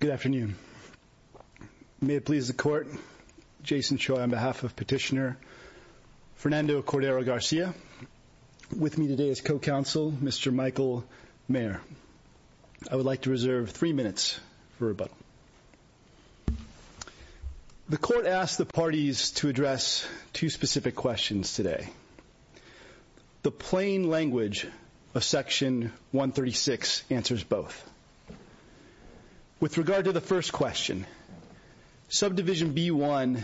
Good afternoon. May it please the Court, Jason Choi on behalf of Petitioner Fernando Cordero-Garcia. With me today is co-counsel, Mr. Michael Mayer. I would like to reserve three minutes for the parties to address two specific questions today. The plain language of Section 136 answers both. With regard to the first question, Subdivision B-1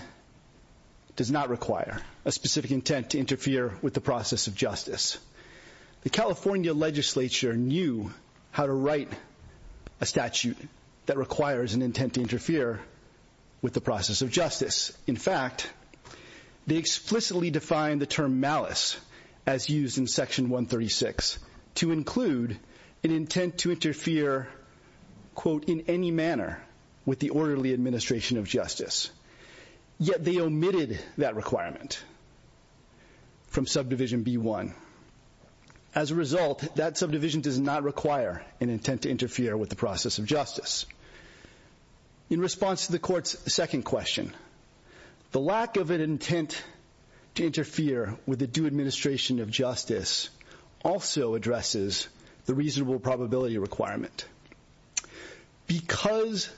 does not require a specific intent to interfere with the process of justice. The California legislature knew how to write a plan. In fact, they explicitly defined the term malice as used in Section 136 to include an intent to interfere, quote, in any manner with the orderly administration of justice. Yet they omitted that requirement from Subdivision B-1. As a result, that subdivision does not require an intent to interfere with the process of justice. In response to the Court's second question, the lack of an intent to interfere with the due administration of justice also addresses the reasonable probability requirement. Because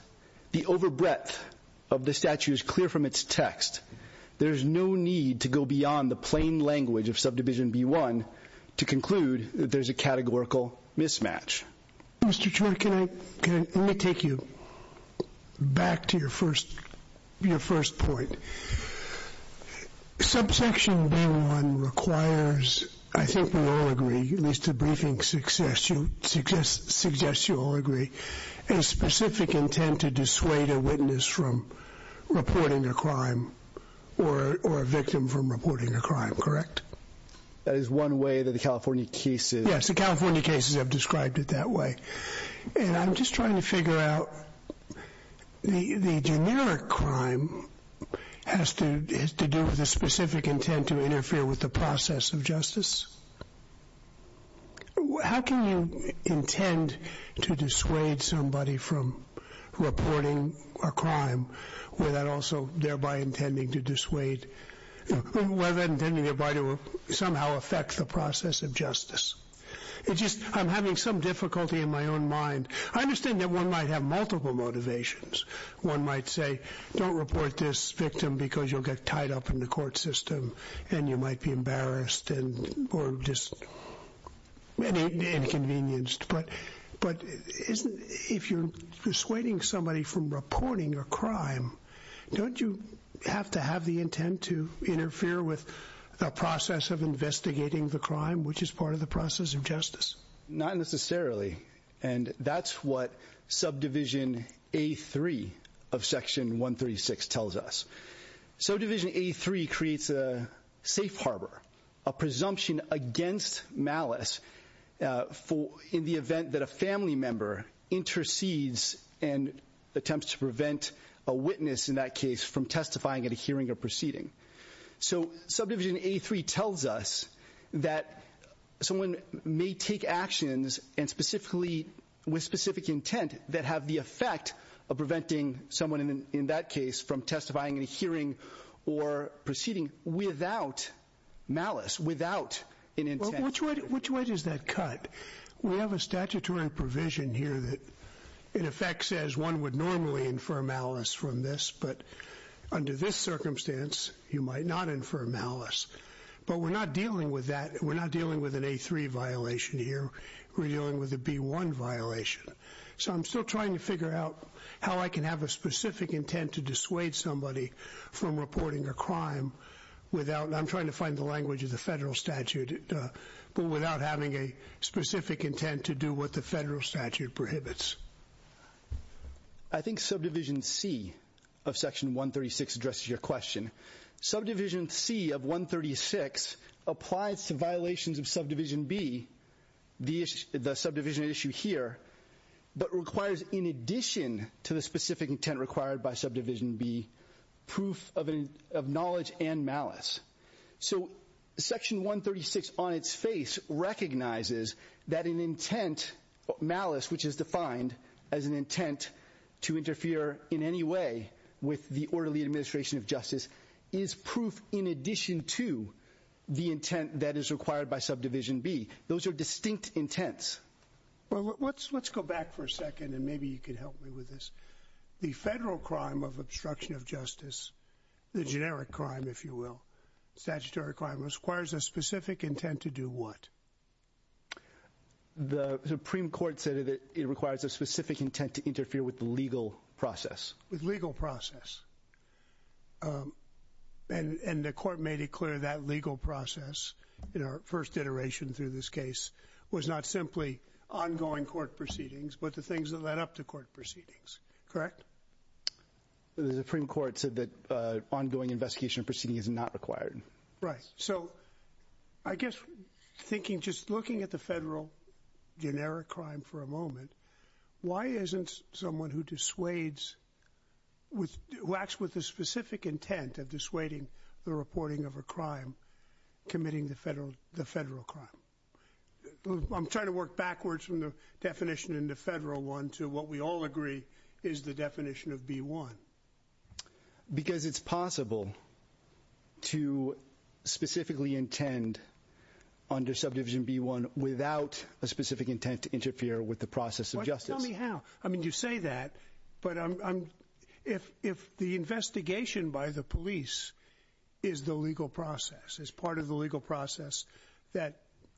the overbreadth of the statute is clear from its text, there is no need to go beyond the plain language of Subdivision B-1 to conclude that there is a categorical mismatch. Mr. Troy, can I take you back to your first point? Subsection B-1 requires, I think we all agree, at least the briefing suggests you all agree, a specific intent to dissuade a witness from reporting a crime or a victim from reporting a crime, correct? That is one way that the California cases... That's one way. And I'm just trying to figure out, the generic crime has to do with a specific intent to interfere with the process of justice? How can you intend to dissuade somebody from reporting a crime without also thereby intending to dissuade, without intending thereby to somehow affect the process of justice? It's just, I'm having some difficulty in my own mind. I understand that one might have multiple motivations. One might say, don't report this victim because you'll get tied up in the court system and you might be embarrassed or just inconvenienced. But if you're dissuading somebody from reporting a crime, don't you have to have the intent to interfere with the process of investigating the crime, which is part of the process of justice? Not necessarily. And that's what Subdivision A-3 of Section 136 tells us. Subdivision A-3 creates a safe harbor, a presumption against malice in the event that a family member intercedes and attempts to prevent a witness in that case from testifying at a hearing or proceeding. So Subdivision A-3 tells us that someone may take actions and specifically with specific intent that have the effect of preventing someone in that case from testifying at a hearing or proceeding without malice, without an intent. Which way does that cut? We have a statutory provision here that in effect says one would normally infer malice from this, but under this circumstance, you might not infer malice. But we're not dealing with that. We're not dealing with an A-3 violation here. We're dealing with a B-1 violation. So I'm still trying to figure out how I can have a specific intent to dissuade somebody from reporting a crime without, and I'm trying to find the federal statute, but without having a specific intent to do what the federal statute prohibits. I think Subdivision C of Section 136 addresses your question. Subdivision C of 136 applies to violations of Subdivision B, the issue, the subdivision issue here, but requires in addition to the specific intent required by Subdivision B proof of knowledge and malice. So Section 136 on its face recognizes that an intent, malice, which is defined as an intent to interfere in any way with the orderly administration of justice, is proof in addition to the intent that is required by Subdivision B. Those are distinct intents. Well, let's go back for a second, and maybe you can help me with this. The federal crime of obstruction of justice, the generic crime, if you will, statutory crime, requires a specific intent to do what? The Supreme Court said that it requires a specific intent to interfere with the legal process. With legal process. And the court made it clear that legal process in our first iteration through this case was not simply ongoing court proceedings, but the things that led up to The Supreme Court said that ongoing investigation and proceeding is not required. Right. So I guess thinking, just looking at the federal generic crime for a moment, why isn't someone who dissuades, who acts with a specific intent of dissuading the reporting of a crime committing the federal crime? I'm trying to work backwards from the definition in the federal one to what we all agree is the definition of B1. Because it's possible to specifically intend under Subdivision B1 without a specific intent to interfere with the process of justice. Tell me how. I mean, you say that, but if the investigation by the police is the legal process that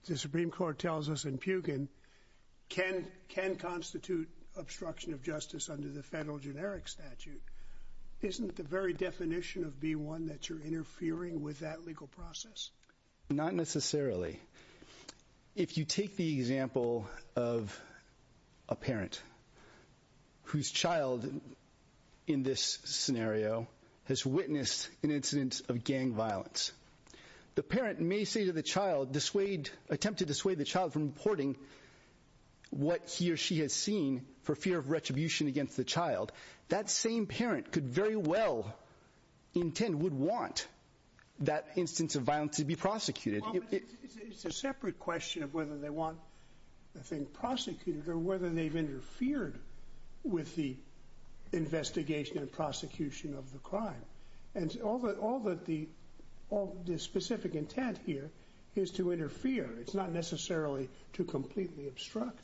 the Supreme Court tells us in Pugin can constitute obstruction of justice under the federal generic statute, isn't the very definition of B1 that you're interfering with that legal process? Not necessarily. If you take the example of a parent whose child in this scenario has attempted to dissuade the child from reporting what he or she has seen for fear of retribution against the child, that same parent could very well intend, would want that instance of violence to be prosecuted. It's a separate question of whether they want the thing prosecuted or whether they've interfered with the investigation and prosecution of the crime. And all the specific intent here is to interfere. It's not necessarily to completely obstruct.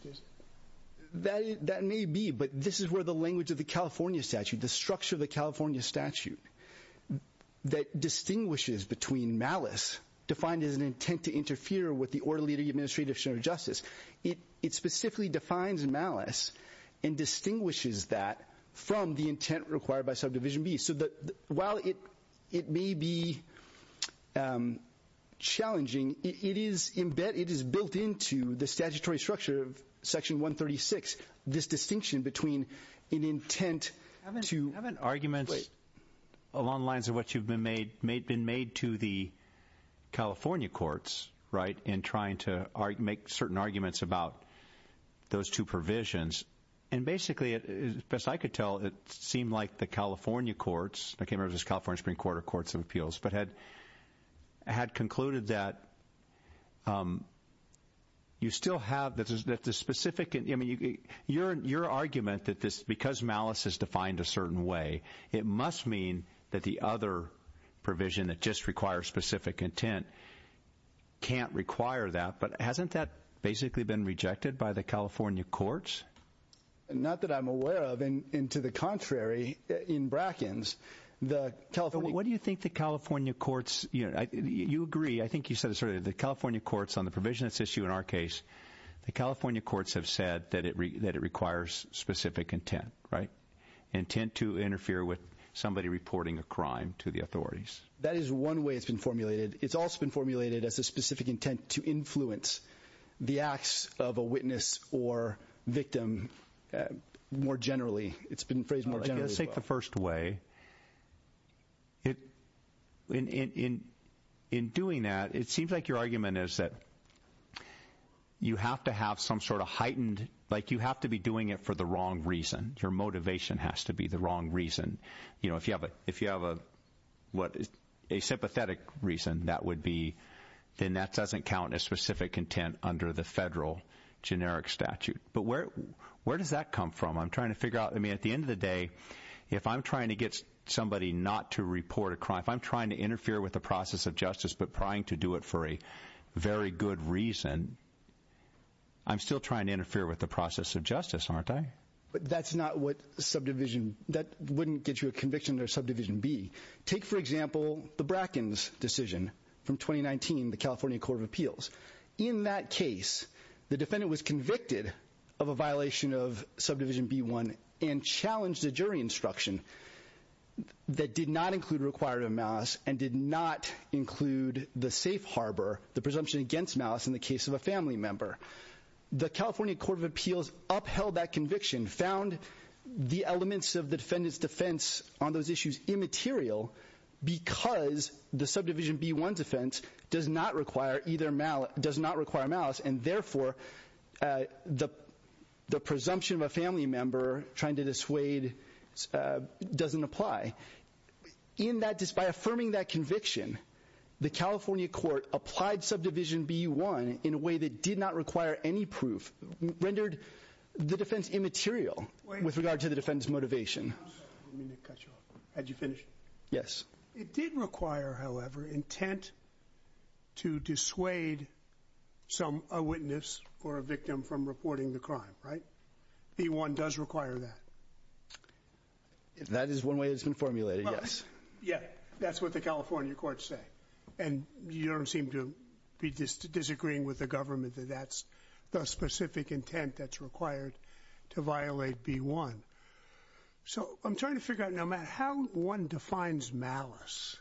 That may be, but this is where the language of the California statute, the structure of the California statute, that distinguishes between malice, defined as an intent to interfere with the orderly administrative action of justice, it specifically defines malice and distinguishes that from the intent required by Subdivision B. So while it may be challenging, it is built into the statutory structure of Section 136, this distinction between an intent to... Haven't arguments along the lines of what you've been made to the California courts in trying to make certain arguments about those two provisions, and basically, as best I could tell, it seemed like the California courts, I can't remember if it was the California Supreme Court or Courts of Appeals, but had concluded that you still have the specific... Your argument that because malice is defined a certain way, it must mean that the other provision that just requires specific intent can't require that, but hasn't that basically been rejected by the California courts? Not that I'm aware of, and to the contrary, in Bracken's, the California... But what do you think the California courts, you agree, I think you said this earlier, the California courts on the provision that's issued in our case, the California courts have said that it requires specific intent, right? Intent to interfere with somebody reporting a crime to the authorities. That is one way it's been formulated. It's also been formulated as a specific intent to influence the acts of a witness or victim more generally. It's been phrased more generally. Let's take the first way. In doing that, it seems like your argument is that you have to have some sort of heightened... You have to be doing it for the wrong reason. Your motivation has to be the wrong reason. If you have a sympathetic reason, then that doesn't count as specific intent under the federal generic statute. But where does that come from? I'm trying to figure out... I mean, at the end of the day, if I'm trying to get somebody not to report a crime, if I'm trying to interfere with the process of justice, but trying to do it for a very good reason, I'm still trying to interfere with the process of justice, aren't I? That's not what subdivision... That wouldn't get you a conviction under subdivision B. Take, for example, the Bracken's decision from 2019, the California Court of Appeals. In that case, the defendant was convicted of a violation of subdivision B1 and challenged a jury instruction that did not include a requirement of malice and did not include the safe harbor, the presumption against malice in the case of a family member. The California Court of Appeals upheld that conviction, found the elements of the defendant's defense on immaterial, because the subdivision B1 defense does not require malice, and therefore, the presumption of a family member trying to dissuade doesn't apply. In that... By affirming that conviction, the California Court applied subdivision B1 in a way that did not require any proof, rendered the defense immaterial with regard to the defendant's motivation. Let me cut you off. Had you finished? Yes. It did require, however, intent to dissuade some... a witness or a victim from reporting the crime, right? B1 does require that. That is one way it's been formulated, yes. Yeah. That's what the California courts say. And you don't seem to be disagreeing with the government that that's the specific intent that's required to violate B1. So I'm trying to figure out, no matter how one defines malice,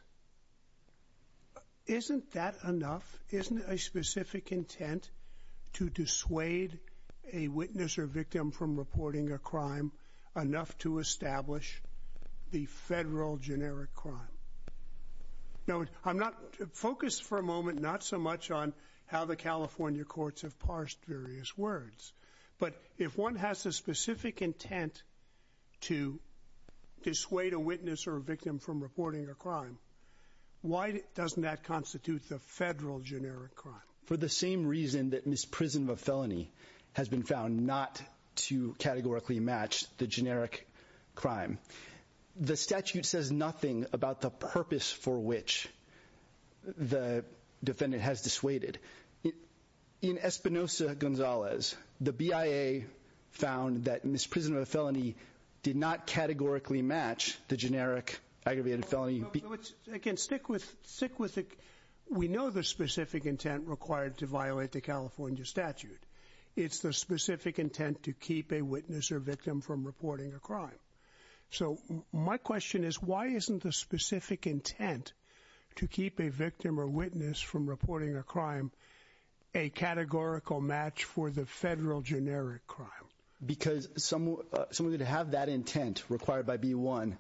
isn't that enough? Isn't a specific intent to dissuade a witness or victim from reporting a crime enough to establish the federal generic crime? Now, I'm not... Focus for a moment not so much on how the California courts have parsed various words, but if one has a specific intent to dissuade a witness or a victim from reporting a crime, why doesn't that constitute the federal generic crime? For the same reason that misprision of a felony has been found not to categorically match the generic crime, the statute says nothing about the purpose for which the defendant has dissuaded. In Espinosa-Gonzalez, the BIA found that misprision of a felony did not categorically match the generic aggravated felony. Again, stick with... We know the specific intent required to violate the California statute. It's the specific intent to keep a witness or victim from reporting a crime. So my question is, why isn't the specific intent to keep a victim or witness from reporting a crime a categorical match for the federal generic crime? Because someone would have that intent required by B1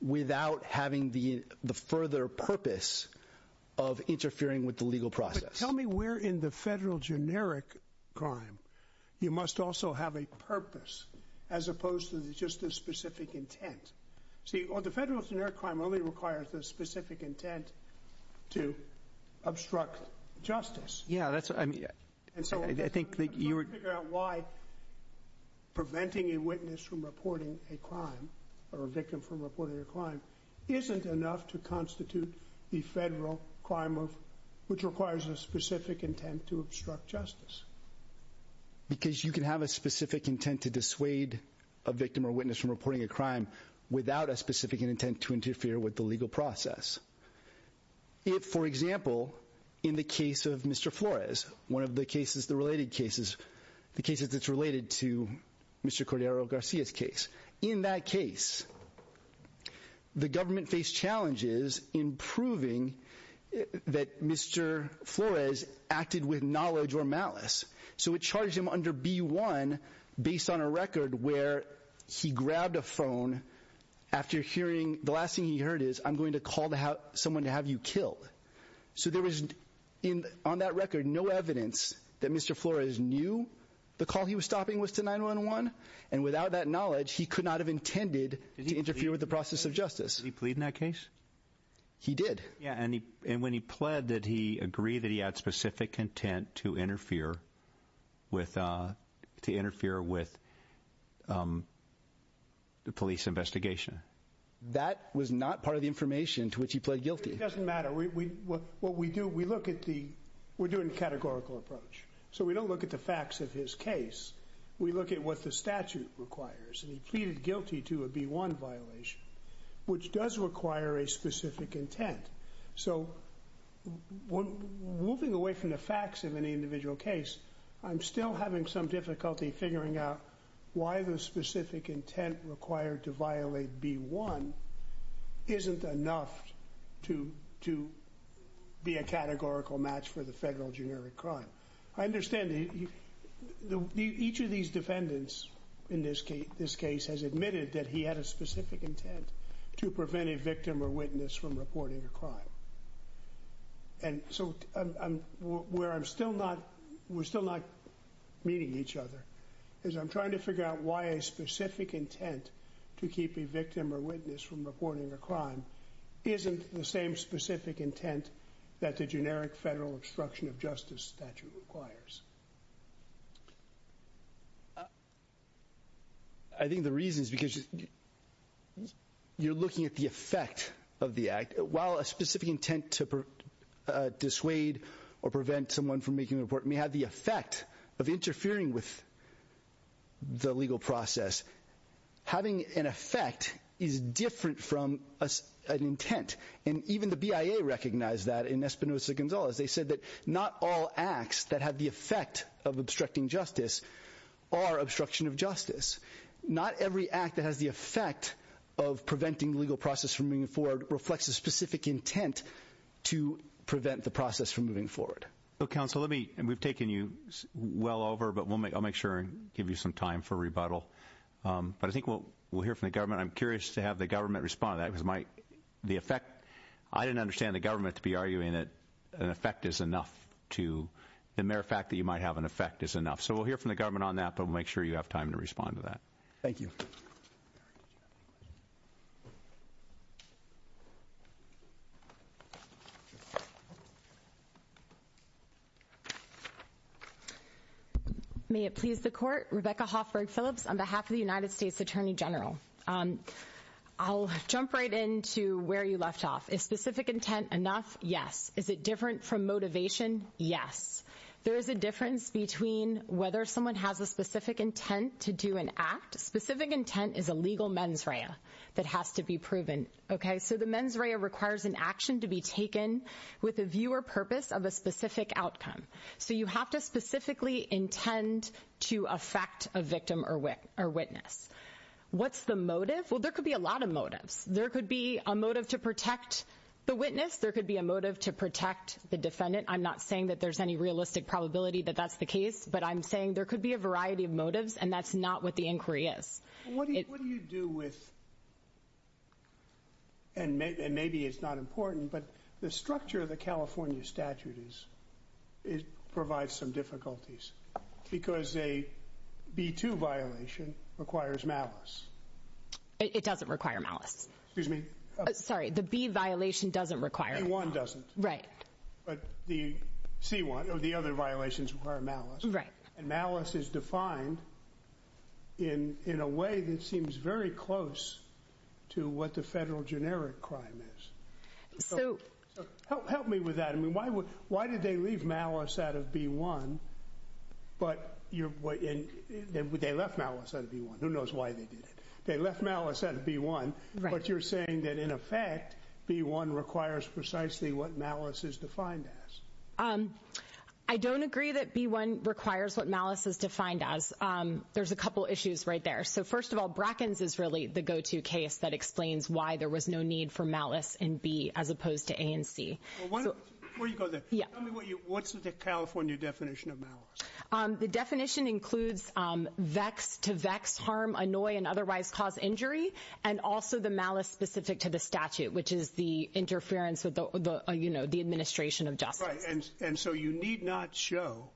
without having the further purpose of interfering with the legal process. Tell me where in the federal generic crime you must also have a purpose as opposed to just the specific intent. See, the federal generic crime only requires the specific intent to obstruct justice. Yeah, that's... I think that you were... So I'm trying to figure out why preventing a witness from reporting a crime or a victim from reporting a crime isn't enough to constitute the federal crime of... which requires a specific intent to obstruct justice. Because you can have a specific intent to dissuade a victim or witness from reporting a crime without a specific intent to interfere with the legal process. If, for example, in the case of Mr. Flores, one of the cases, the related cases, the cases that's related to Mr. Cordero Garcia's case. In that case, the government faced challenges in proving that Mr. Flores acted with knowledge or malice. So it charged him under B1 based on a record where he grabbed a phone after hearing... the last thing he heard is, I'm going to call someone to have you killed. So there was, on that record, no evidence that Mr. Flores knew the call he was stopping was to 911. And without that knowledge, he could not have intended to interfere with the process of justice. Did he plead in that case? He did. Yeah, and when he pled, did he agree that he had specific intent to interfere with... to interfere with the police investigation? That was not part of the information to which he pled guilty. It doesn't matter. What we do, we look at the... we're doing a categorical approach. So we don't look at the facts of his case. We look at what the statute requires, and he pleaded guilty to a B1 violation, which does require a specific intent. So moving away from the facts of any individual case, I'm still having some difficulty figuring out why the specific intent required to violate B1 isn't enough to be a categorical match for federal generic crime. I understand each of these defendants in this case has admitted that he had a specific intent to prevent a victim or witness from reporting a crime. And so where I'm still not... we're still not meeting each other, is I'm trying to figure out why a specific intent to keep a victim or witness from reporting a crime isn't the same specific intent that the generic federal obstruction of justice statute requires. I think the reason is because you're looking at the effect of the act. While a specific intent to dissuade or prevent someone from making a report may have the effect of interfering with the legal process, having an effect is different from an intent. And even the BIA recognized that in Espinosa-Gonzalez. They said that not all acts that have the effect of obstructing justice are obstruction of justice. Not every act that has the effect of preventing the legal process from moving forward reflects a specific intent to prevent the process from moving forward. Counsel, we've taken you well over, but I'll make sure and give you some time for rebuttal. But I think we'll hear from the government. I'm curious to have the government respond to that the effect. I didn't understand the government to be arguing that an effect is enough to the mere fact that you might have an effect is enough. So we'll hear from the government on that, but we'll make sure you have time to respond to that. Thank you. May it please the court. Rebecca Hoffberg Phillips on behalf of the United States Attorney General. I'll jump right into where you left off. Is specific intent enough? Yes. Is it different from motivation? Yes. There is a difference between whether someone has a specific intent to do an act. Specific intent is a legal mens rea that has to be proven. So the mens rea requires an action to be taken with a view or purpose of a specific outcome. So you have to specifically intend to affect a victim or witness. What's the motive? Well, there could be a lot of motives. There could be a motive to protect the witness. There could be a motive to protect the defendant. I'm not saying that there's any realistic probability that that's the case, but I'm saying there could be a variety of motives and that's not what the inquiry is. What do you do with and maybe it's not important, but the structure of the California statute is it because a B2 violation requires malice. It doesn't require malice. Excuse me. Sorry, the B violation doesn't require. A1 doesn't. Right. But the C1 or the other violations require malice. Right. And malice is defined in a way that seems very close to what the federal generic crime is. So help me with that. I mean, why did they leave malice out of B1? But they left malice out of B1. Who knows why they did it? They left malice out of B1, but you're saying that in effect, B1 requires precisely what malice is defined as. I don't agree that B1 requires what malice is defined as. There's a couple issues right there. So first of all, Brackens is really the go-to case that explains why there was no need for as opposed to A and C. Where do you go there? What's the California definition of malice? The definition includes vex to vex, harm, annoy, and otherwise cause injury, and also the malice specific to the statute, which is the interference with the administration of justice. Right. And so you need not show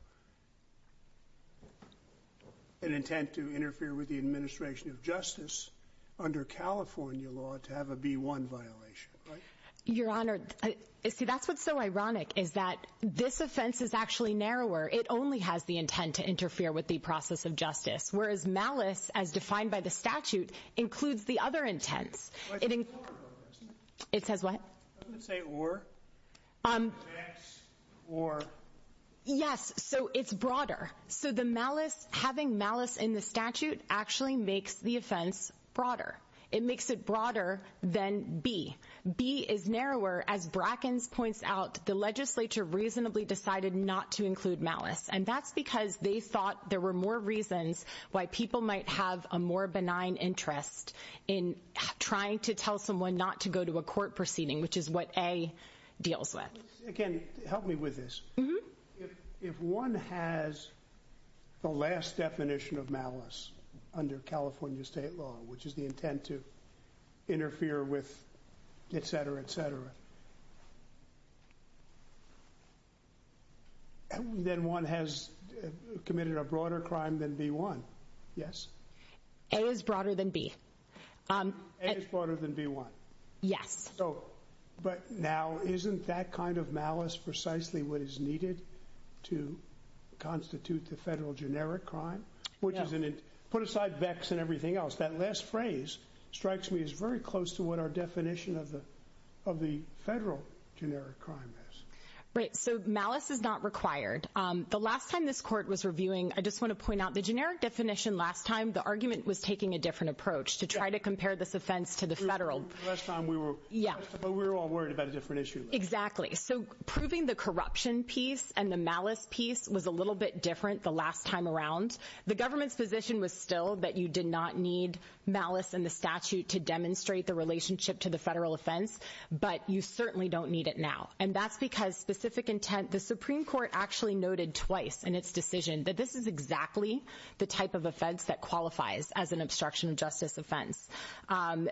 an intent to interfere with the administration of justice under California law to have a B1 violation, right? Your Honor, see, that's what's so ironic, is that this offense is actually narrower. It only has the intent to interfere with the process of justice, whereas malice, as defined by the statute, includes the other intents. It says what? It doesn't say or. Yes, so it's broader. So the malice, having malice in the statute actually makes the offense broader. It makes it broader than B. B is narrower. As Brackens points out, the legislature reasonably decided not to include malice, and that's because they thought there were more reasons why people might have a more benign interest in trying to tell someone not to go to a court proceeding, which is what A deals with. Again, help me with this. If one has the last definition of malice under California state law, which is the intent to interfere with et cetera, et cetera, then one has committed a broader crime than B1. Yes. A is broader than B. A is broader than B1. Yes. But now isn't that kind of malice precisely what is needed to constitute the federal generic crime? Put aside VEX and everything else, that last phrase strikes me as very close to what our definition of the federal generic crime is. Right. So malice is not required. The last time this court was reviewing, I just want to point out the generic definition last time, the argument was taking a different approach to try to compare this offense to the federal. Last time we were all worried about a different issue. Exactly. So proving the piece was a little bit different the last time around. The government's position was still that you did not need malice in the statute to demonstrate the relationship to the federal offense, but you certainly don't need it now. And that's because specific intent, the Supreme Court actually noted twice in its decision that this is exactly the type of offense that qualifies as an obstruction of justice offense.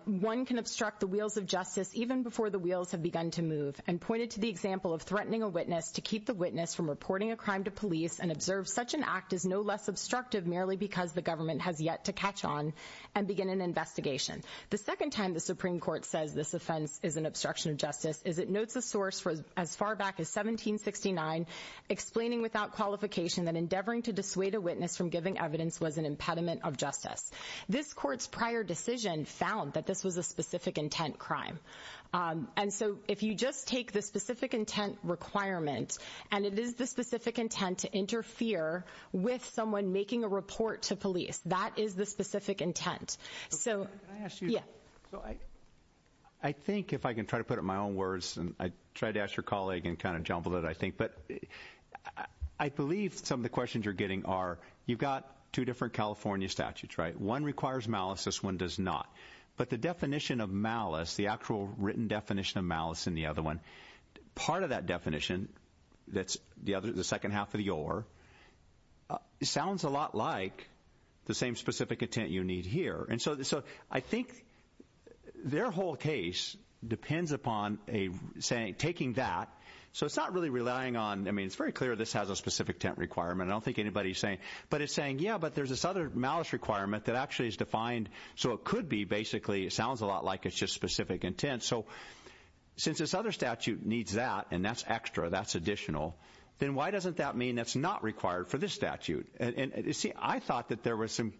One can obstruct the wheels of justice even before the wheels have begun to move and pointed to the example of threatening a witness to keep the witness from reporting a crime to police and observe such an act is no less obstructive merely because the government has yet to catch on and begin an investigation. The second time the Supreme Court says this offense is an obstruction of justice is it notes a source for as far back as 1769 explaining without qualification that endeavoring to dissuade a witness from giving evidence was an impediment of justice. This court's prior decision found that this was a intent requirement and it is the specific intent to interfere with someone making a report to police. That is the specific intent. So yeah, I think if I can try to put it in my own words and I tried to ask your colleague and kind of jumbled it, I think, but I believe some of the questions you're getting are you've got two different California statutes, right? One requires malice, this one does not. But the definition of malice, the actual written definition of malice in the other one, part of that definition, that's the other, the second half of the OR, sounds a lot like the same specific intent you need here. And so I think their whole case depends upon a saying, taking that, so it's not really relying on, I mean, it's very clear this has a specific intent requirement. I don't think anybody's saying, but it's saying, yeah, but there's this other malice requirement that actually is defined so it could be basically, it sounds a lot like it's just the other statute needs that, and that's extra, that's additional, then why doesn't that mean that's not required for this statute? And you see, I thought that there were some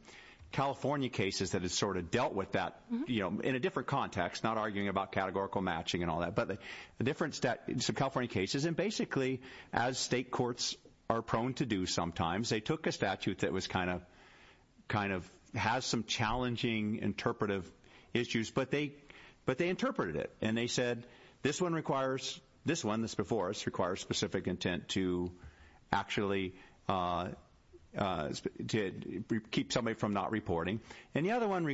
California cases that had sort of dealt with that, you know, in a different context, not arguing about categorical matching and all that, but the difference that some California cases, and basically as state courts are prone to do sometimes, they took a statute that was kind of, kind of has some challenging interpretive issues, but they interpreted it, and they said, this one requires, this one, this before us, requires specific intent to actually, to keep somebody from not reporting, and the other one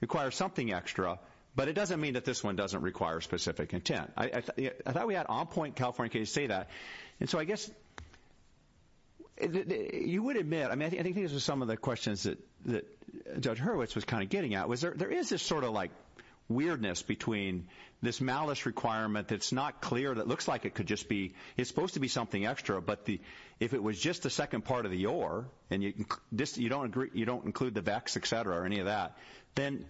requires something extra, but it doesn't mean that this one doesn't require specific intent. I thought we had on-point California cases say that, and so I guess, you would admit, I mean, I think these are some of the questions that Judge Hurwitz was kind of weirdness between this malice requirement that's not clear, that looks like it could just be, it's supposed to be something extra, but if it was just the second part of the or, and you don't include the vex, etc., or any of that, then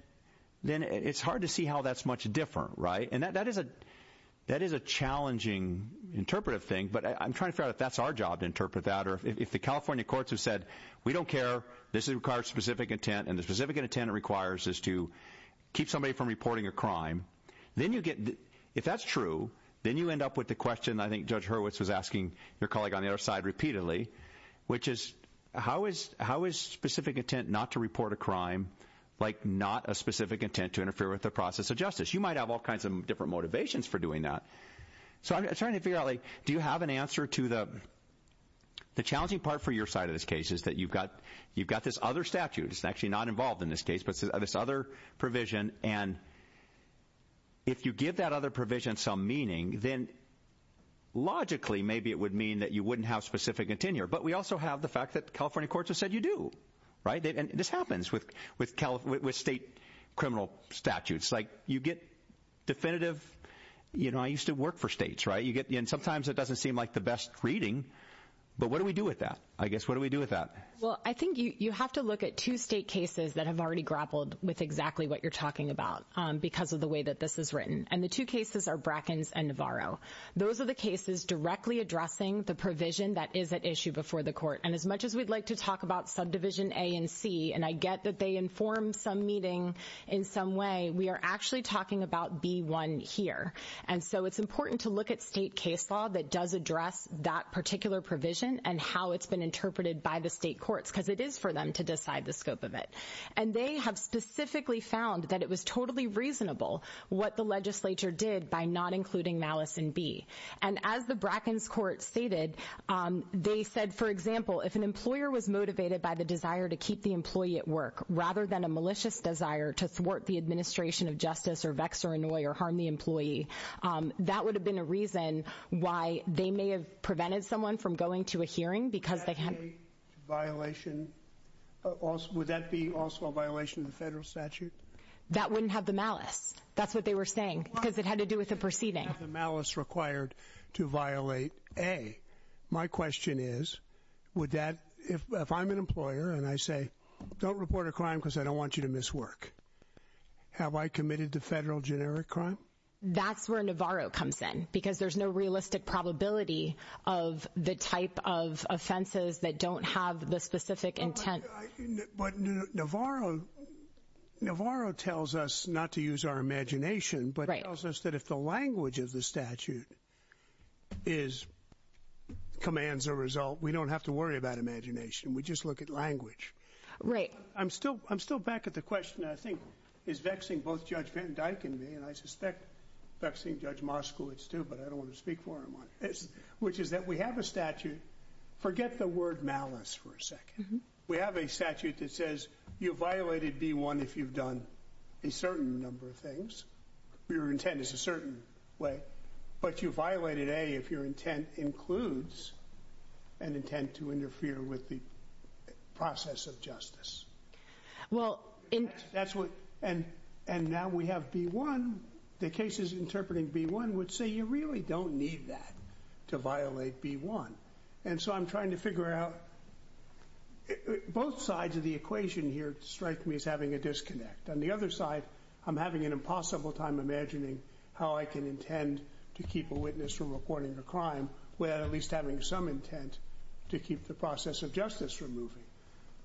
it's hard to see how that's much different, right? And that is a challenging interpretive thing, but I'm trying to figure out if that's our job to interpret that, or if the California courts have said, we don't care, this requires specific intent, and the specific intent it requires is to keep somebody from reporting a crime, then you get, if that's true, then you end up with the question I think Judge Hurwitz was asking your colleague on the other side repeatedly, which is, how is specific intent not to report a crime like not a specific intent to interfere with the process of justice? You might have all kinds of different motivations for doing that, so I'm trying to figure out, like, do you have an answer to the, the challenging part for your side of this case is that you've got, you've got this other statute, it's actually not involved in this case, but this other provision, and if you give that other provision some meaning, then logically, maybe it would mean that you wouldn't have specific intent here, but we also have the fact that California courts have said you do, right? And this happens with, with state criminal statutes, like, you get definitive, you know, I used to work for states, right? You get, and sometimes it doesn't seem like the best reading, but what do we with that? I guess, what do we do with that? Well, I think you, you have to look at two state cases that have already grappled with exactly what you're talking about because of the way that this is written, and the two cases are Brackens and Navarro. Those are the cases directly addressing the provision that is at issue before the court, and as much as we'd like to talk about subdivision A and C, and I get that they inform some meeting in some way, we are actually talking about B-1 here, and so it's important to look at state case law that does address that particular provision and how it's been interpreted by the state courts because it is for them to decide the scope of it, and they have specifically found that it was totally reasonable what the legislature did by not including malice in B, and as the Brackens court stated, they said, for example, if an employer was motivated by the desire to keep the employee at work rather than a malicious desire to thwart the administration of justice, or vex, or annoy, or harm the employee, that would have been a reason why they may have prevented someone from going to a hearing because they can't. Would that be also a violation of the federal statute? That wouldn't have the malice. That's what they were saying because it had to do with the proceeding. Malice required to violate A. My question is, if I'm an employer and I say, don't report a crime because I don't want you to miss work, have I committed the federal generic crime? That's where Navarro comes in because there's no realistic probability of the type of offenses that don't have the specific intent. But Navarro tells us not to use our imagination, but he tells us that if the language of the statute commands a result, we don't have to worry about imagination. We just look at language. Right. I'm still back at the question, I think, is vexing both Judge Van Dyke and me, and I suspect vexing Judge Moskowitz too, but I don't want to speak for him on this, which is that we have a statute. Forget the word malice for a second. We have a statute that says you violated B1 if you've done a certain number of things. Your intent is a certain way, but you violated A if your intent includes an intent to interfere with the process of justice. And now we have B1. The cases interpreting B1 would say you really don't need that to violate B1. And so I'm trying to figure out, both sides of the equation here strike me as having a disconnect. On the other side, I'm having an impossible time imagining how I can intend to keep a witness from reporting a crime without at least having some intent to keep the process of justice from moving.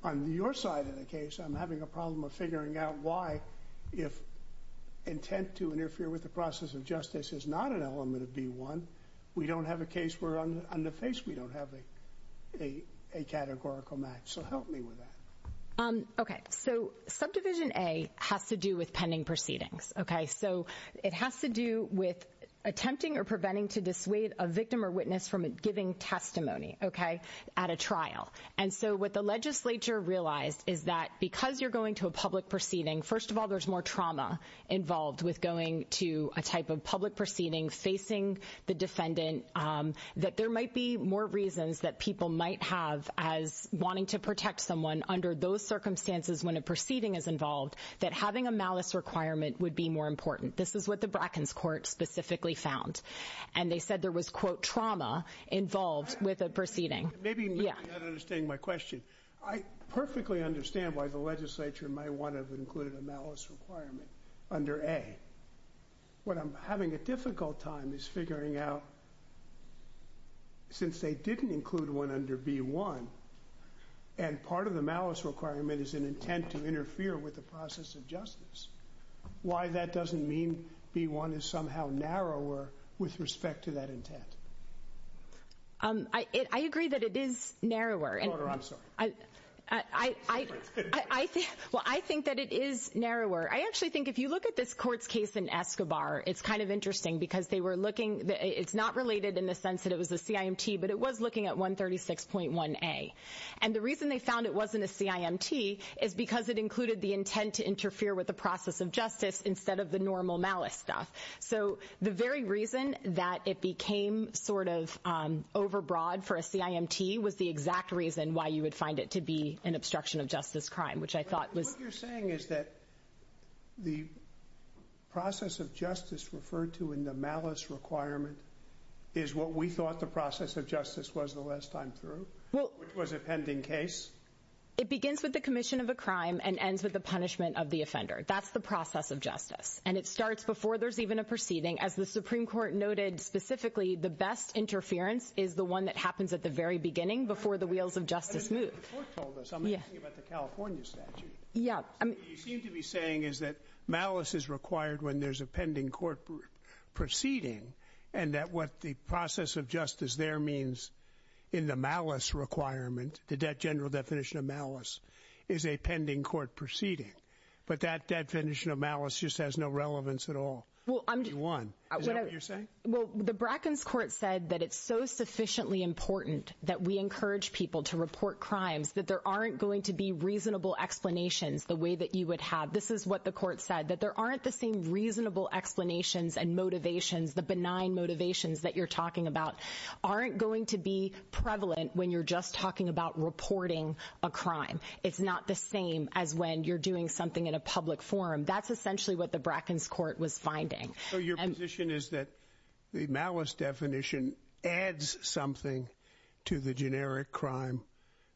On your side of the case, I'm having a problem of figuring out why, if intent to interfere with the process of justice is not an element of B1, we don't have a case where on the face we don't have a categorical match. So help me with that. Okay. So subdivision A has to do with pending proceedings. Okay. So it has to do with attempting or preventing to dissuade a victim or witness from giving testimony, okay, at a trial. And so what the legislature realized is that because you're going to a public proceeding, first of all, there's more trauma involved with going to a type of public proceeding facing the defendant, that there might be more reasons that people might have as wanting to protect someone under those circumstances when a proceeding is involved, that having a malice requirement would be more important. This is what the Bracken's court specifically found. And they said there was, quote, trauma involved with a proceeding. Maybe you're not understanding my question. I perfectly understand why the legislature might want to have included a malice requirement under A. What I'm having a difficult time is figuring out, since they didn't include one under B1, and part of the malice requirement is an intent to interfere with the process of justice, why that doesn't mean B1 is somehow narrower with respect to that intent. I agree that it is narrower. I'm sorry. Well, I think that it is narrower. I actually think if you look at this court's case in Escobar, it's kind of interesting because they were looking, it's not related in the sense that it was a CIMT, but it was looking at 136.1A. And the reason they found it wasn't a CIMT is because it included the intent to interfere with the process of justice instead of the normal malice stuff. So the very reason that it became sort of overbroad for a CIMT was the exact reason why you would find it to be an obstruction of justice crime, which I thought was... What you're saying is that the process of justice referred to in the malice requirement is what we thought the process of justice was the last time through, which was a pending case? It begins with the commission of a crime and ends with the punishment of the offender. That's the process of justice. And it starts before there's even a proceeding. As the Supreme Court noted specifically, the best interference is the one that happens at the very beginning, before the wheels of justice move. The court told us something about the California statute. Yeah. What you seem to be saying is that malice is required when there's a pending court proceeding and that what the process of justice there means in the malice requirement, the debt general definition of malice, is a pending court proceeding. But that definition of malice just has no relevance at all. Is that what you're saying? Well, the Bracken's court said that it's so sufficiently important that we encourage people to report crimes, that there aren't going to be reasonable explanations the way that you would have. This is what the court said, that there aren't the same reasonable explanations and motivations, the benign motivations that you're talking about aren't going to be prevalent when you're just talking about reporting a crime. It's not the same as when you're doing something in a public forum. That's essentially what the Bracken's court was finding. So your position is that the malice definition adds something to the generic crime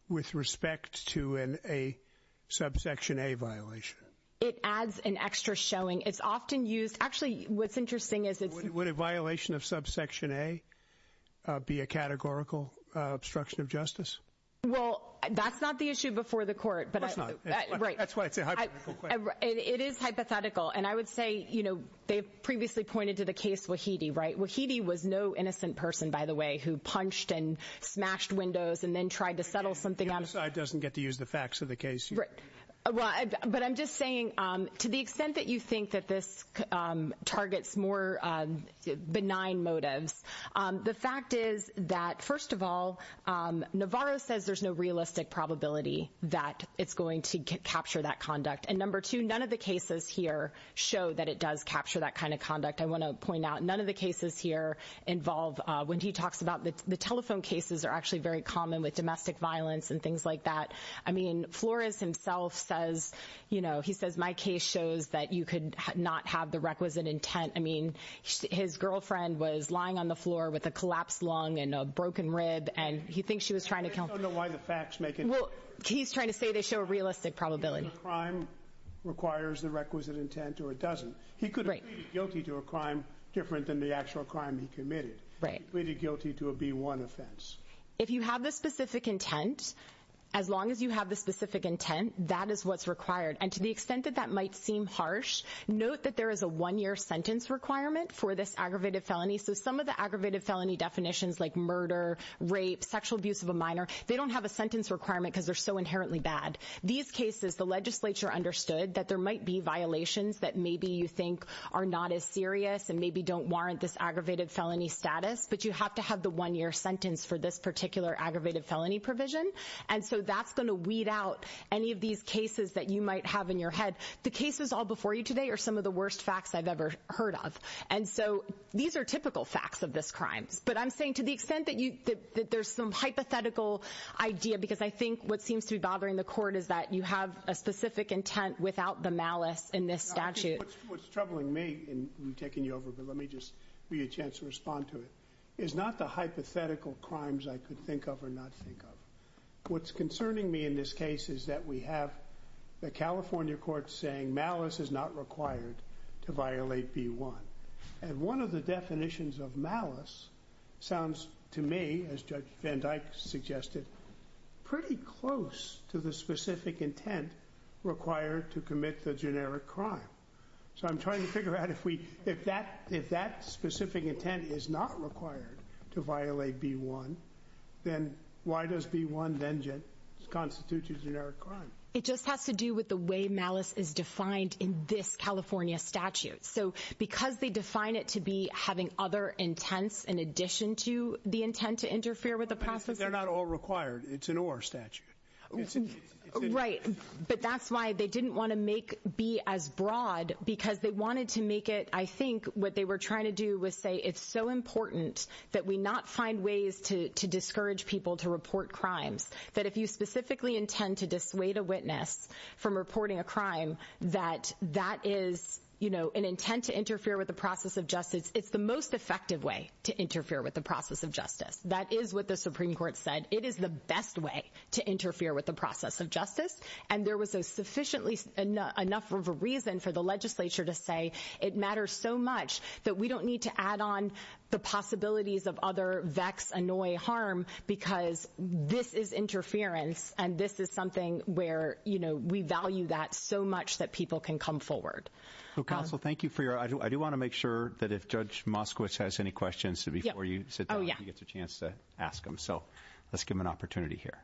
with respect to a subsection A violation? It adds an extra showing. It's often used. Actually, what's interesting is... Would a violation of subsection A be a categorical obstruction of justice? Well, that's not the issue before the court. Of course not. That's why it's a hypothetical question. It is hypothetical. And I would say, you know, they've previously pointed to the case Wahidi, right? Wahidi was no innocent person, by the way, who punched and smashed windows and then got to use the facts of the case. But I'm just saying, to the extent that you think that this targets more benign motives, the fact is that, first of all, Navarro says there's no realistic probability that it's going to capture that conduct. And number two, none of the cases here show that it does capture that kind of conduct. I want to point out, none of the cases here involve... When he talks about the telephone cases are actually very common with domestic violence and things like that. I mean, Flores himself says, you know, he says, my case shows that you could not have the requisite intent. I mean, his girlfriend was lying on the floor with a collapsed lung and a broken rib, and he thinks she was trying to kill... I just don't know why the facts make it... Well, he's trying to say they show a realistic probability. A crime requires the requisite intent or it doesn't. He could have pleaded guilty to a crime different than the actual crime he committed. He pleaded guilty to a B1 offense. If you have the specific intent, as long as you have the specific intent, that is what's required. And to the extent that that might seem harsh, note that there is a one-year sentence requirement for this aggravated felony. So some of the aggravated felony definitions like murder, rape, sexual abuse of a minor, they don't have a sentence requirement because they're so inherently bad. These cases, the legislature understood that there might be violations that maybe you think are not as serious and maybe don't warrant this aggravated felony status, but you have to have the one-year sentence for this particular aggravated felony provision. And so that's going to weed out any of these cases that you might have in your head. The cases all before you today are some of the worst facts I've ever heard of. And so these are typical facts of this crime. But I'm saying to the extent that there's some hypothetical idea, because I think what seems to be bothering the court is that you have a specific intent without the malice in this statute. What's troubling me, and I'm taking you think of or not think of, what's concerning me in this case is that we have the California court saying malice is not required to violate B-1. And one of the definitions of malice sounds to me, as Judge Van Dyke suggested, pretty close to the specific intent required to commit the generic crime. So I'm trying to figure out if that specific intent is not required to violate B-1, then why does B-1 then constitute a generic crime? It just has to do with the way malice is defined in this California statute. So because they define it to be having other intents in addition to the intent to interfere with the process. But they're not all required. It's an or statute. Right. But that's why they didn't want to make B as broad, because they wanted to make I think what they were trying to do was say, it's so important that we not find ways to discourage people to report crimes. That if you specifically intend to dissuade a witness from reporting a crime, that that is, you know, an intent to interfere with the process of justice. It's the most effective way to interfere with the process of justice. That is what the Supreme Court said. It is the best way to interfere with the process of justice. And there was a sufficiently enough of a reason for the legislature to say it matters so much that we don't need to add on the possibilities of other vex, annoy, harm, because this is interference and this is something where, you know, we value that so much that people can come forward. Well, counsel, thank you for your, I do want to make sure that if Judge Moskowitz has any questions before you sit down, you get a chance to ask them. So let's give them an opportunity here.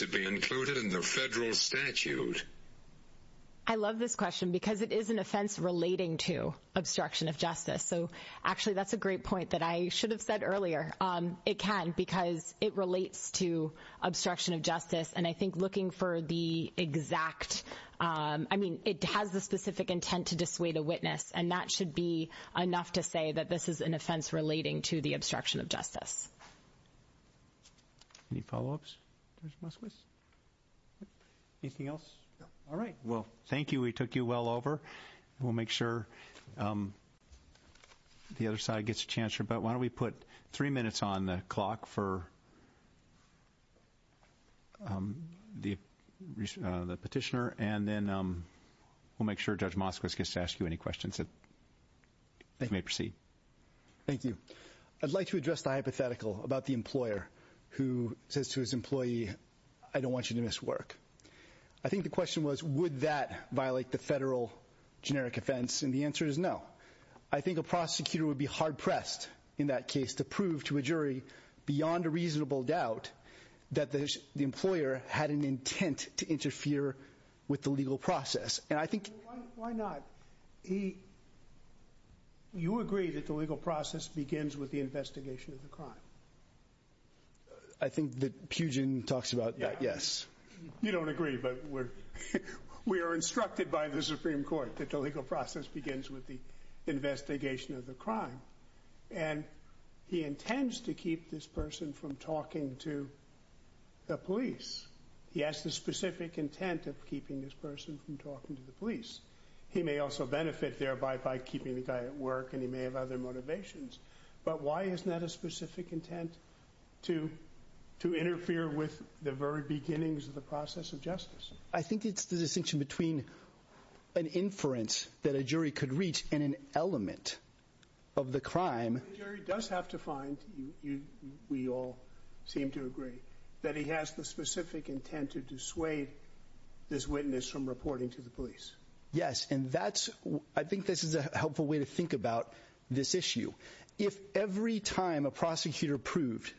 To be included in the federal statute. I love this question because it is an offense relating to obstruction of justice. So actually, that's a great point that I should have said earlier. It can because it relates to obstruction of justice. And I think looking for the exact, I mean, it has the specific intent to dissuade a witness. And that should be enough to say that this is an offense relating to the Judge Moskowitz. Anything else? All right. Well, thank you. We took you well over. We'll make sure the other side gets a chance. But why don't we put three minutes on the clock for the petitioner and then we'll make sure Judge Moskowitz gets to ask you any questions that may proceed. Thank you. I'd like to address the hypothetical about the employer who says to his employee, I don't want you to miss work. I think the question was, would that violate the federal generic offense? And the answer is no. I think a prosecutor would be hard pressed in that case to prove to a jury beyond a reasonable doubt that the employer had an intent to interfere with the legal process. And I think why not? He. You agree that the legal process begins with the investigation of the crime. I think that Pugin talks about that. Yes. You don't agree, but we're we are instructed by the Supreme Court that the legal process begins with the investigation of the crime. And he intends to keep this person from talking to the police. He has the specific intent of keeping this person from talking to the police. He may also benefit thereby by keeping the guy at work and he may other motivations. But why isn't that a specific intent to to interfere with the very beginnings of the process of justice? I think it's the distinction between an inference that a jury could reach in an element of the crime. Does have to find you. We all seem to agree that he has the specific intent to dissuade this witness from reporting to the police. Yes. And that's I think this is a helpful way to think about this issue. If every time a prosecutor proved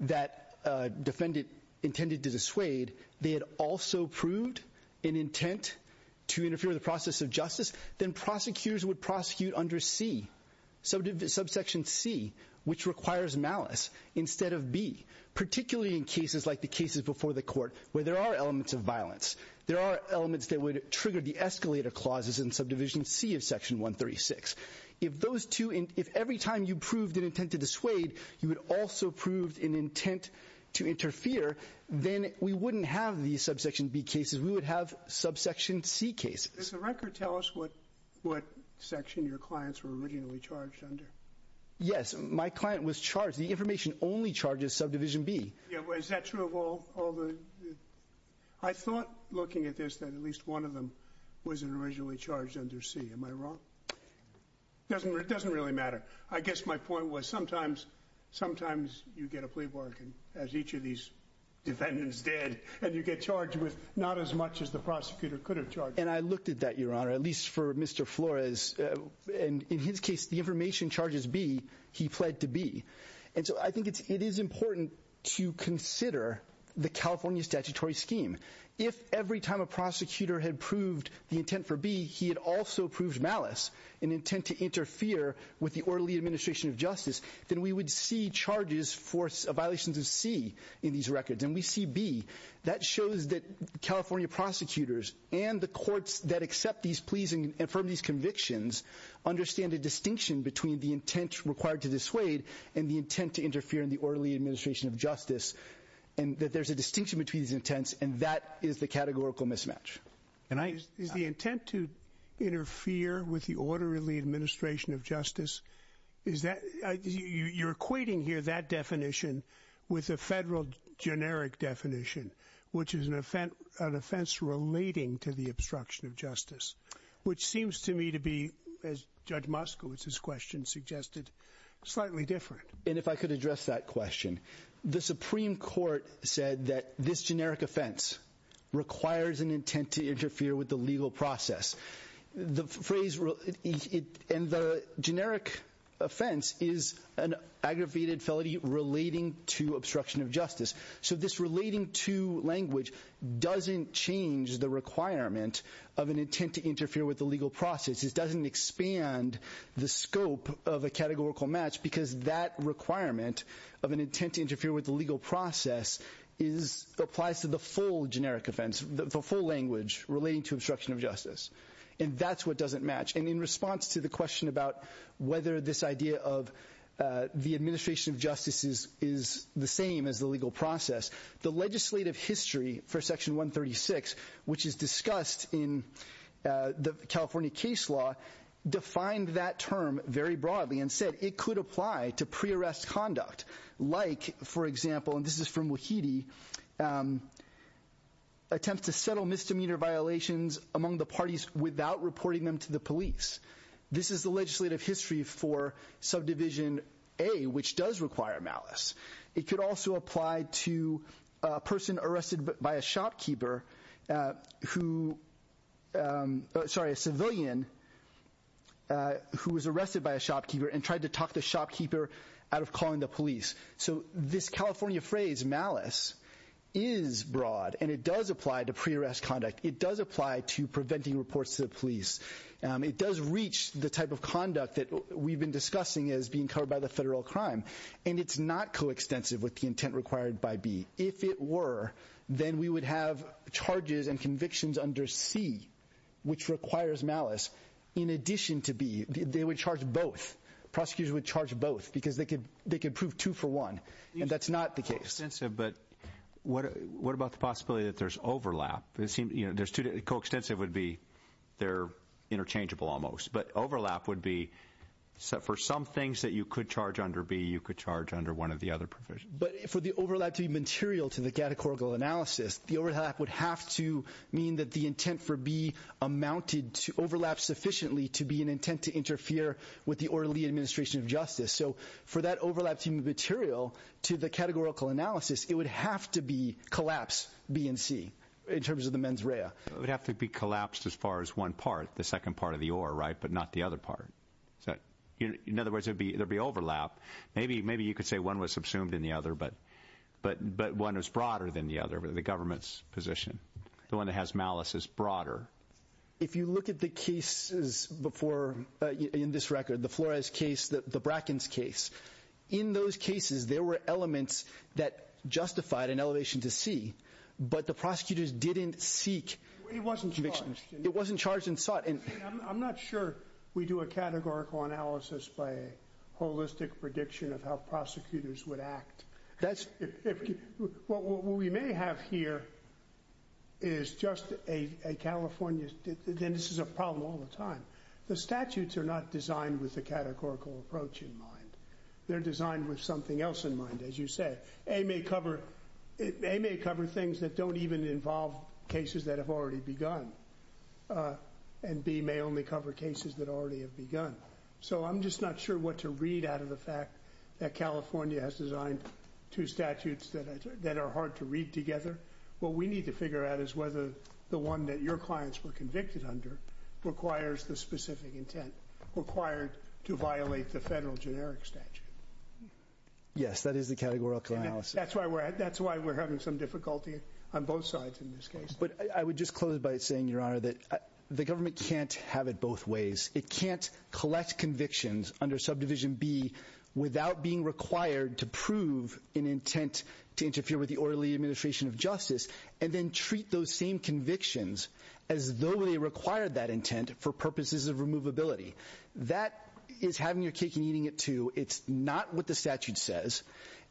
that a defendant intended to dissuade, they had also proved an intent to interfere with the process of justice, then prosecutors would prosecute under C, subsection C, which requires malice instead of B, particularly in cases like the cases before the court where there are elements of violence. There are elements that would trigger the escalator clauses in subdivision C of section 136. If those two, if every time you proved an intent to dissuade, you would also prove an intent to interfere, then we wouldn't have the subsection B cases. We would have subsection C cases. Does the record tell us what what section your clients were originally charged under? Yes. My client was charged. The information only charges subdivision B. Yeah. Is that true of all all the I thought looking at this that at least one of them was originally charged under C. Am I wrong? Doesn't it doesn't really matter. I guess my point was sometimes sometimes you get a plea bargain as each of these defendants did and you get charged with not as much as the prosecutor could have charged. And I looked at that, your honor, at least for Mr. Flores. And in his case, the information charges be he pled to be. And so I think it's it is important to consider the California statutory scheme. If every time a prosecutor had proved the intent for B, he had also proved malice and intent to interfere with the orderly administration of justice, then we would see charges for violations of C in these records. And we see B. That shows that California prosecutors and the courts that accept these pleasing and from these convictions understand a distinction between the intent required to dissuade and the intent to interfere in the there's a distinction between these intents. And that is the categorical mismatch. And I is the intent to interfere with the orderly administration of justice. Is that you're equating here that definition with a federal generic definition, which is an offense, an offense relating to the obstruction of justice, which seems to me to be, as Judge Moskowitz's question suggested, slightly different. And if I could address that question, the Supreme Court said that this generic offense requires an intent to interfere with the legal process. The phrase it and the generic offense is an aggravated felony relating to obstruction of justice. So this relating to language doesn't change the requirement of an intent to interfere with the legal process. It doesn't expand the scope of a categorical match because that requirement of an intent to interfere with the legal process is applies to the full generic offense, the full language relating to obstruction of justice. And that's what doesn't match. And in response to the question about whether this idea of the administration of justice is the same as the legal process, the legislative history for Section 136, which is discussed in the California case law, defined that term very broadly and said it could apply to pre-arrest conduct like, for example, and this is from Wahidi, attempts to settle misdemeanor violations among the parties without reporting them to the police. This is the legislative history for Subdivision A, which does require malice. It could also apply to a person arrested by a shopkeeper who, sorry, a civilian who was arrested by a shopkeeper and tried to talk the shopkeeper out of calling the police. So this California phrase, malice, is broad and it does apply to pre-arrest conduct. It does apply to preventing reports to the police. It does reach the type of conduct that we've been discussing as being covered by the federal crime. And it's not the intent required by B. If it were, then we would have charges and convictions under C, which requires malice, in addition to B. They would charge both. Prosecutors would charge both because they could prove two for one. And that's not the case. Coextensive, but what about the possibility that there's overlap? Coextensive would be they're interchangeable almost. But overlap would be for some things that you could charge under B, you could charge under one of the other provisions. But for the overlap to be material to the categorical analysis, the overlap would have to mean that the intent for B amounted to overlap sufficiently to be an intent to interfere with the orderly administration of justice. So for that overlap to be material to the categorical analysis, it would have to be collapse B and C in terms of the mens rea. It would have to be collapsed as far as one part, the second part of the or right, but not the other part. In other words, there'd be overlap. Maybe you could say one was subsumed in the other, but one is broader than the other, the government's position. The one that has malice is broader. If you look at the cases before in this record, the Flores case, the Bracken's case, in those cases, there were elements that justified an elevation to C, but the prosecutors didn't seek convictions. It wasn't charged. I'm not sure we do a categorical analysis by a holistic prediction of how prosecutors would act. What we may have here is just a California, and this is a problem all the time, the statutes are not designed with the categorical approach in mind. They're designed with something else in mind. As you said, A may cover things that don't even involve cases that have already begun. And B may only cover cases that already have begun. So I'm just not sure what to read out of the fact that California has designed two statutes that are hard to read together. What we need to figure out is whether the one that your clients were convicted under requires the specific intent required to violate the federal generic statute. Yes, that is the categorical analysis. That's why we're having some difficulty on both sides in this case. I would just close by saying, Your Honor, that the government can't have it both ways. It can't collect convictions under subdivision B without being required to prove an intent to interfere with the orderly administration of justice, and then treat those same convictions as though they require that intent for purposes of removability. That is having your cake and eating it too. It's not what the statute says,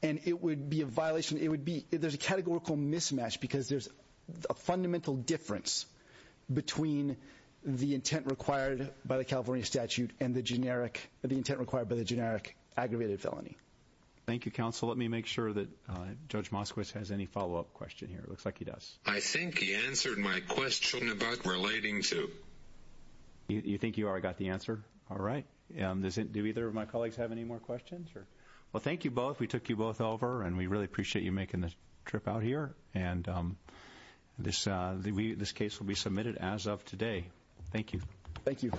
and it would be a violation. There's a categorical mismatch because there's a fundamental difference between the intent required by the California statute and the intent required by the generic aggravated felony. Thank you, counsel. Let me make sure that Judge Moskowitz has any follow-up question here. It looks like he does. I think he answered my question about relating to... You think you already got the answer? All right. Do either of my colleagues have any more questions? Sure. Well, thank you both. We took you both over, and we really appreciate you making the trip out here, and this case will be submitted as of today. Thank you. Thank you.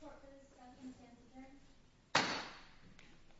I'm going to go back to sleep.